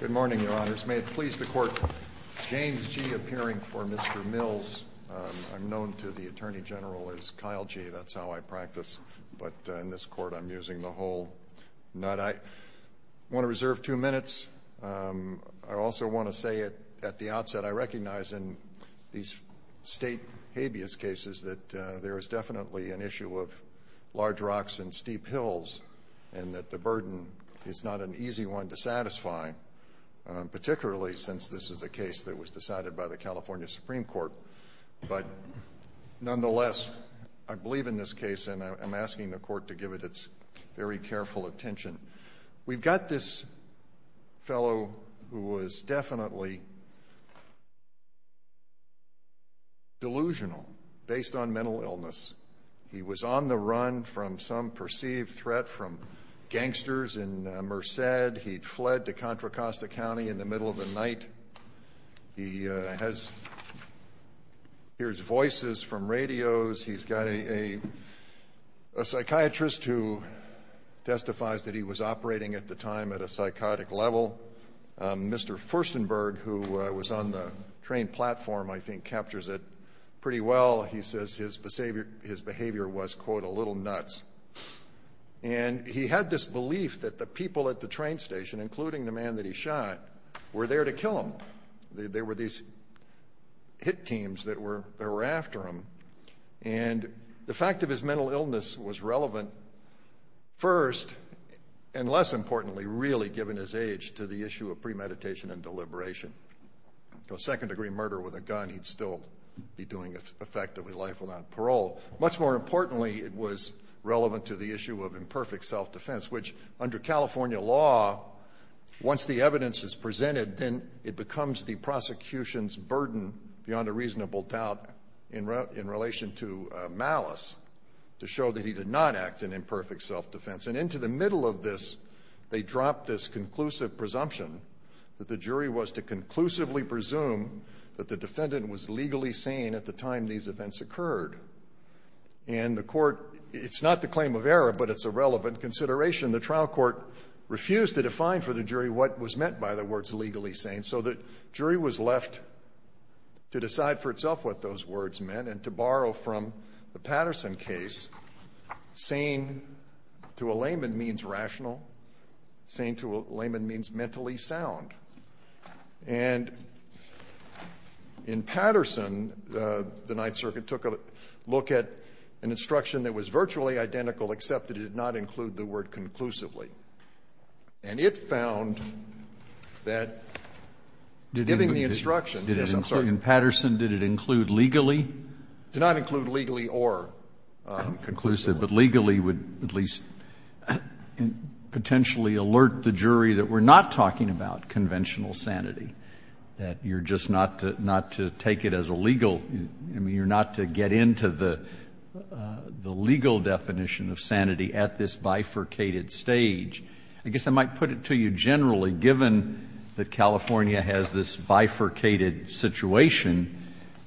Good morning, Your Honors. May it please the Court, James G. appearing for Mr. Mills. I'm known to the Attorney General as Kyle G., that's how I practice. But in this Court, I'm using the whole nut. I want to reserve two minutes. I also want to say at the outset, I recognize in these state habeas cases that there is definitely an issue of large rocks and steep hills and that the burden is not an easy one to satisfy, particularly since this is a case that was decided by the California Supreme Court. But nonetheless, I believe in this case and I'm asking the Court to give it its very careful attention. We've got this fellow who was definitely delusional based on mental illness. He was on the run from some perceived threat from gangsters in Merced. He fled to Contra Costa County in the middle of the night. He hears voices from radios. He's got a psychiatrist who testifies that he was operating at the time at a psychotic level. Mr. Furstenberg, who was on the train platform, I think captures it pretty well. He says his behavior was, quote, a little nuts. And he had this belief that the people at the train station, including the man that he shot, were there to kill him. There were these hit teams that were after him. And the fact of his mental illness was relevant, first, and less importantly, really given his age to the issue of premeditation and deliberation. A second-degree murder with a gun, he'd still be doing effectively life without parole. Much more importantly, it was relevant to the issue of imperfect self-defense, which under California law, once the evidence is presented, then it becomes the prosecution's burden beyond a reasonable doubt in relation to malice to show that he did not act in imperfect self-defense. And into the middle of this, they dropped this conclusive presumption that the jury was to conclusively presume that the defendant was legally sane at the time these events occurred. And the court, it's not the claim of error, but it's a relevant consideration. The trial court refused to define for the jury what was meant by the words legally sane, so the jury was left to decide for itself what those words meant And to borrow from the Patterson case, sane to a layman means rational. Sane to a layman means mentally sound. And in Patterson, the Ninth Circuit took a look at an instruction that was virtually identical, except that it did not include the word conclusively. And it found that giving the instruction that it included legally. It did not include legally or conclusively. Roberts, but legally would at least potentially alert the jury that we're not talking about conventional sanity, that you're just not to take it as a legal, I mean, you're not to get into the legal definition of sanity at this bifurcated stage. I guess I might put it to you generally, given that California has this bifurcated situation,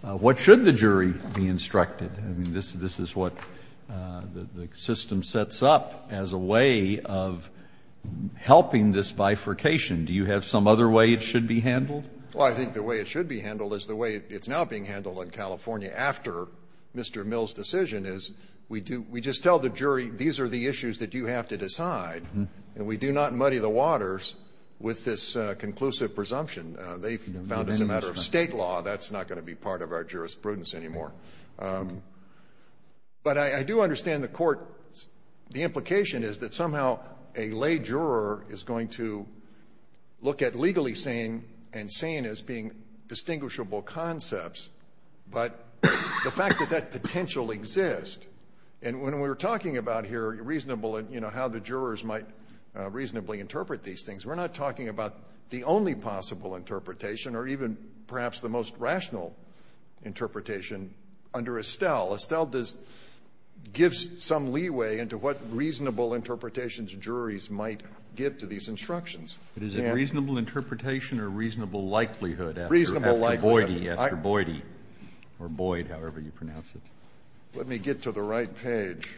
what should the jury be instructed? I mean, this is what the system sets up as a way of helping this bifurcation. Do you have some other way it should be handled? Well, I think the way it should be handled is the way it's now being handled in California after Mr. Mill's decision is we do we just tell the jury these are the issues that you have to decide, and we do not muddy the waters with this conclusive presumption. They found as a matter of State law, that's not going to be part of our jurisprudence anymore. But I do understand the Court's the implication is that somehow a lay juror is going to look at legally sane and sane as being distinguishable concepts, but the fact that that potential exists. And when we were talking about here reasonable and, you know, how the jurors might reasonably interpret these things, we're not talking about the only possible interpretation or even perhaps the most rational interpretation under Estelle. Estelle does give some leeway into what reasonable interpretations juries might give to these instructions. But is it reasonable interpretation or reasonable likelihood after Boyd, after Boyd, or Boyd, however you pronounce it? Let me get to the right page.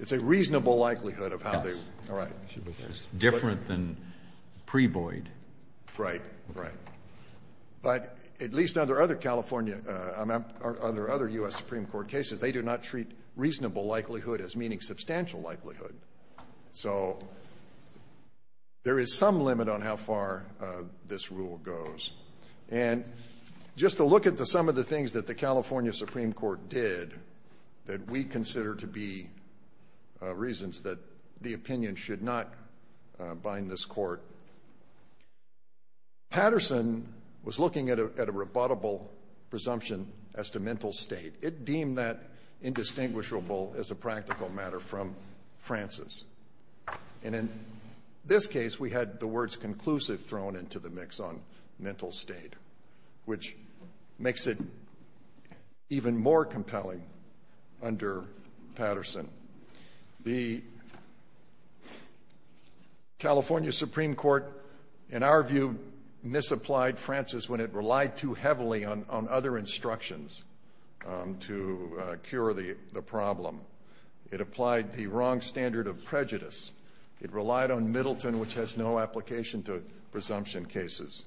It's a reasonable likelihood of how they, all right. It's different than pre-Boyd. Right. Right. But at least under other California, under other U.S. Supreme Court cases, they do not treat reasonable likelihood as meaning substantial likelihood. So there is some limit on how far this rule goes. And just to look at the sum of the things that the California Supreme Court did that we consider to be reasons that the opinion should not bind this Court. Patterson was looking at a rebuttable presumption as to mental state. It deemed that indistinguishable as a practical matter from Francis. And in this case, we had the words conclusive thrown into the mix on mental state, which makes it even more compelling under Patterson. The California Supreme Court, in our view, misapplied Francis when it relied too heavily on other instructions to cure the problem. It applied the wrong standard of prejudice. It relied on Middleton, which has no application to presumption cases.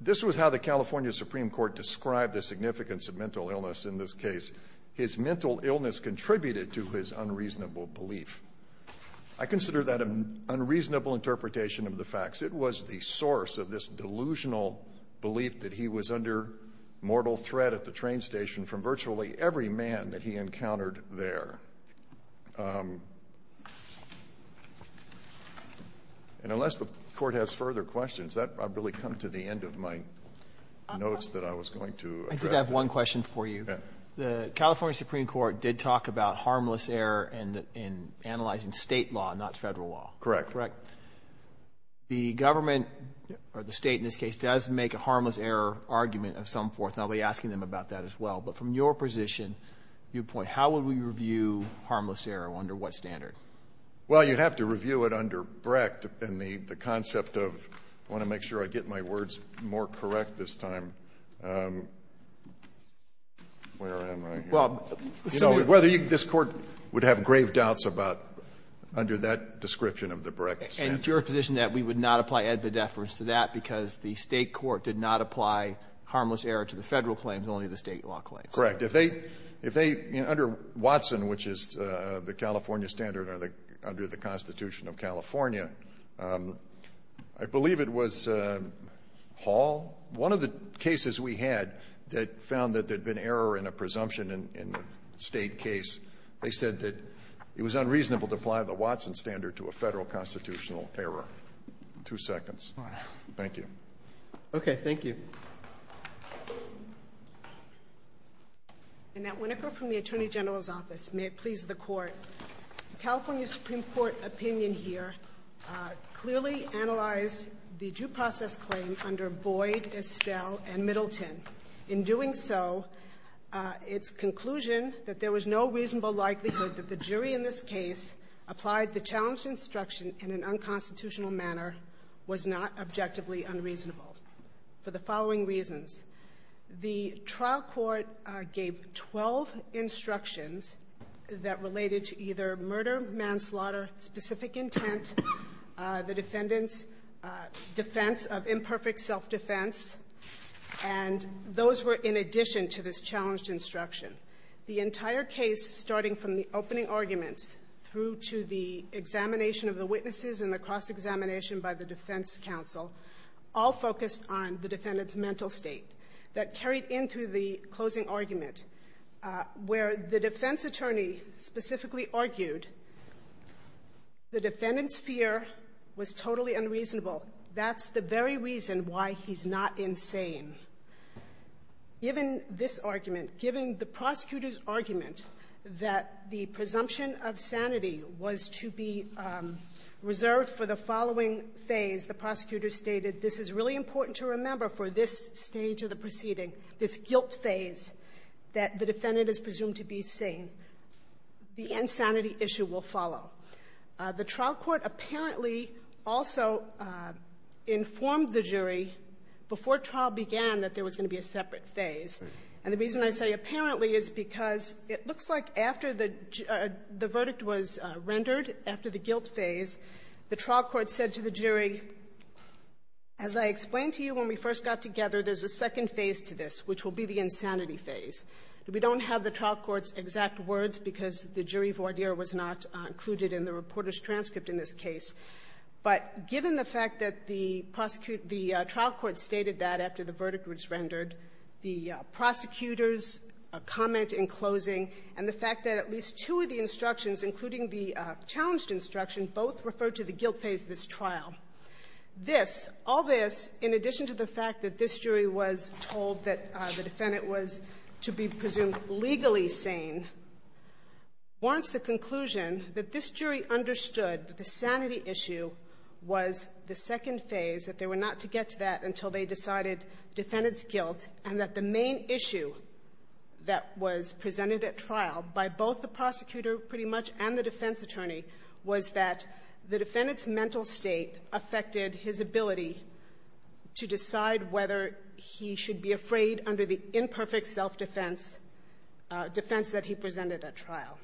This was how the California Supreme Court described the significance of mental illness in this case. His mental illness contributed to his unreasonable belief. I consider that an unreasonable interpretation of the facts. It was the source of this delusional belief that he was under mortal threat at the train station from virtually every man that he encountered there. And unless the Court has further questions, I've really come to the end of my notes that I was going to address. I have one question for you. The California Supreme Court did talk about harmless error in analyzing State law, not Federal law. Correct. Correct. The government, or the State in this case, does make a harmless error argument of some forth, and I'll be asking them about that as well. But from your position, your point, how would we review harmless error? Under what standard? Well, you'd have to review it under Brecht. And the concept of, I want to make sure I get my words more correct this time. Where am I? So whether this Court would have grave doubts about under that description of the Brecht standard. And it's your position that we would not apply ad vedeference to that because the State court did not apply harmless error to the Federal claims, only the State law claims. Correct. If they, under Watson, which is the California standard, or under the Constitution of California, I believe it was Hall. One of the cases we had that found that there had been error in a presumption in the State case, they said that it was unreasonable to apply the Watson standard to a Federal constitutional error. Two seconds. All right. Thank you. Okay. Thank you. Annette Winokur from the Attorney General's Office. May it please the Court. California Supreme Court opinion here clearly analyzed the due process claim under Boyd, Estelle, and Middleton. In doing so, its conclusion that there was no reasonable likelihood that the jury in this case applied the challenged instruction in an unconstitutional manner was not objectively unreasonable for the following reasons. The trial court gave 12 instructions that related to either murder, manslaughter, specific intent, the defendant's defense of imperfect self-defense, and those were in addition to this challenged instruction. The entire case, starting from the opening arguments through to the examination of the witnesses and the cross-examination by the defense counsel, all focused on the defendant's mental state that carried in through the closing argument where the defense attorney specifically argued the defendant's fear was totally unreasonable. That's the very reason why he's not insane. Given this argument, given the prosecutor's argument that the presumption of sanity was to be reserved for the following phase, the prosecutor stated this is really important to remember for this stage of the proceeding, this guilt phase that the defendant is presumed to be sane, the insanity issue will follow. The trial court apparently also informed the jury before trial began that there was going to be a separate phase. And the reason I say apparently is because it looks like after the verdict was rendered, after the guilt phase, the trial court said to the jury, as I explained to you when we first got together, there's a second phase to this, which will be the insanity phase. We don't have the trial court's exact words because the jury voir dire was not included in the reporter's transcript in this case. But given the fact that the trial court stated that after the verdict was rendered, the prosecutor's comment in closing and the fact that at least two of the instructions, including the challenged instruction, both refer to the guilt phase of this trial, this, all this, in addition to the fact that this jury was told that the defendant was to be presumed legally sane, warrants the conclusion that this jury understood that the sanity issue was the trial by both the prosecutor pretty much and the defense attorney was that the defendant's mental state affected his ability to decide whether he should be afraid under the imperfect self-defense, defense that he presented at trial.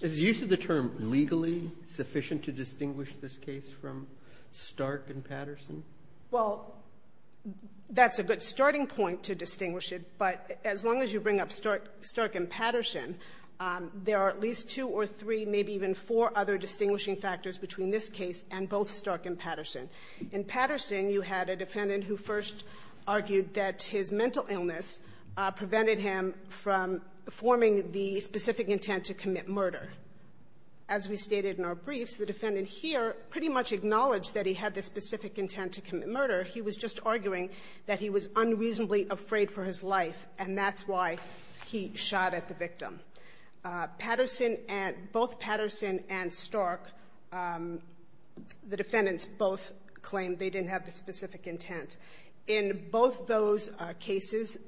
Is the use of the term legally sufficient to distinguish this case from Stark and Patterson? Well, that's a good starting point to distinguish it, but as long as you bring up Stark and Patterson, there are at least two or three, maybe even four other distinguishing factors between this case and both Stark and Patterson. In Patterson, you had a defendant who first argued that his mental illness prevented him from forming the specific intent to commit murder. As we stated in our briefs, the defendant here pretty much acknowledged that he had the specific intent to commit murder. He was just arguing that he was unreasonably afraid for his life, and that's why he shot at the victim. Patterson and — both Patterson and Stark, the defendants both claimed they didn't have the specific intent. In both those cases,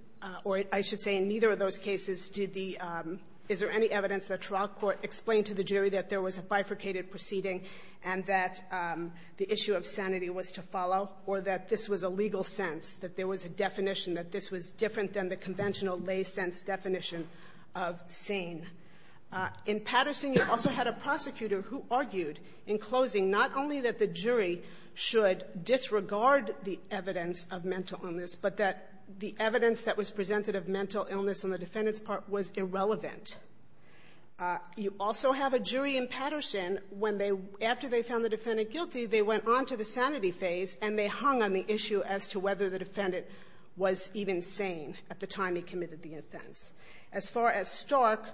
or I should say in neither of those cases, did the — is there any evidence that trial court explained to the jury that there was a bifurcated proceeding and that the issue of sanity was to follow, or that this was a legal sense, that there was a definition, that this was different than the conventional lay-sense definition of sane? In Patterson, you also had a prosecutor who argued in closing not only that the jury should disregard the evidence of mental illness, but that the evidence that was presented of mental illness on the defendant's part was irrelevant. You also have a jury in Patterson when they — after they found the defendant guilty, they went on to the sanity phase and they hung on the issue as to whether the defendant was even sane at the time he committed the offense. As far as Stark,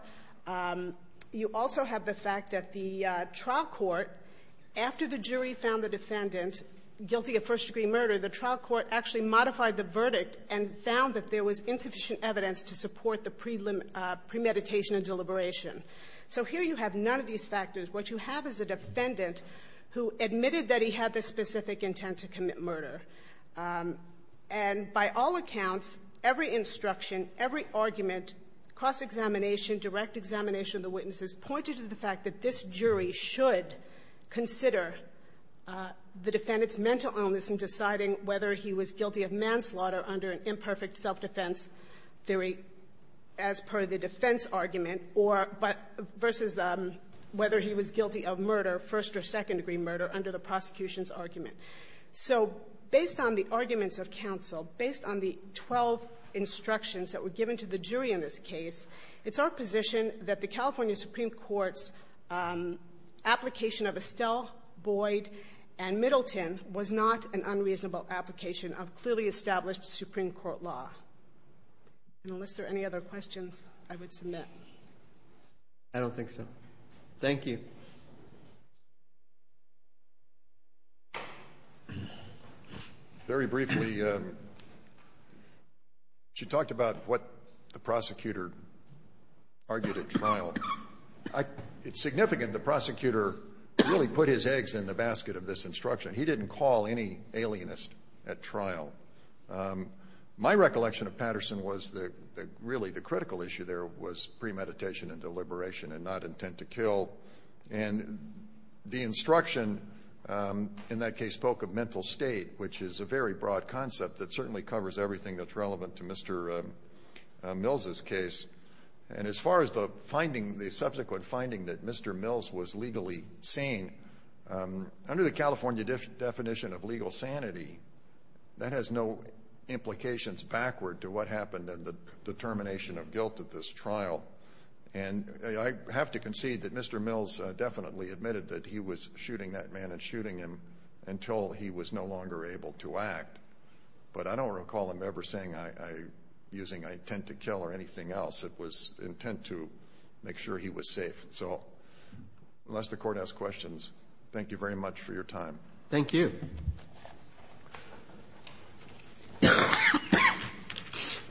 you also have the fact that the trial court, after the jury found the defendant guilty of first-degree murder, the trial court actually modified the verdict and found that there was insufficient evidence to support the premeditation and deliberation. So here you have none of these factors. What you have is a defendant who admitted that he had the specific intent to commit murder. And by all accounts, every instruction, every argument, cross-examination, direct examination of the witnesses pointed to the fact that this jury should consider the defendant's mental illness in deciding whether he was guilty of manslaughter under an imperfect self-defense theory as per the defense argument or — versus whether he was guilty of murder, first- or second-degree murder, under the prosecution's argument. So based on the arguments of counsel, based on the 12 instructions that were given to the jury in this case, it's our position that the California Supreme Court's application of Estelle, Boyd, and Middleton was not an unreasonable application of clearly established Supreme Court law. And unless there are any other questions, I would submit. I don't think so. Thank you. Very briefly, she talked about what the prosecutor argued at trial. It's significant the prosecutor really put his eggs in the basket of this instruction. He didn't call any alienist at trial. My recollection of Patterson was that really the critical issue there was premeditation and deliberation and not intent to kill. And the instruction in that case spoke of mental state, which is a very broad concept that certainly covers everything that's relevant to Mr. Mills's case. And as far as the finding, the subsequent finding that Mr. Mills was legally sane, under the California definition of legal sanity, that has no implications backward to what happened in the determination of guilt at this trial. And I have to concede that Mr. Mills definitely admitted that he was shooting that man and shooting him until he was no longer able to act. But I don't recall him ever saying using intent to kill or anything else. It was intent to make sure he was safe. So unless the Court has questions, thank you very much for your time. Thank you.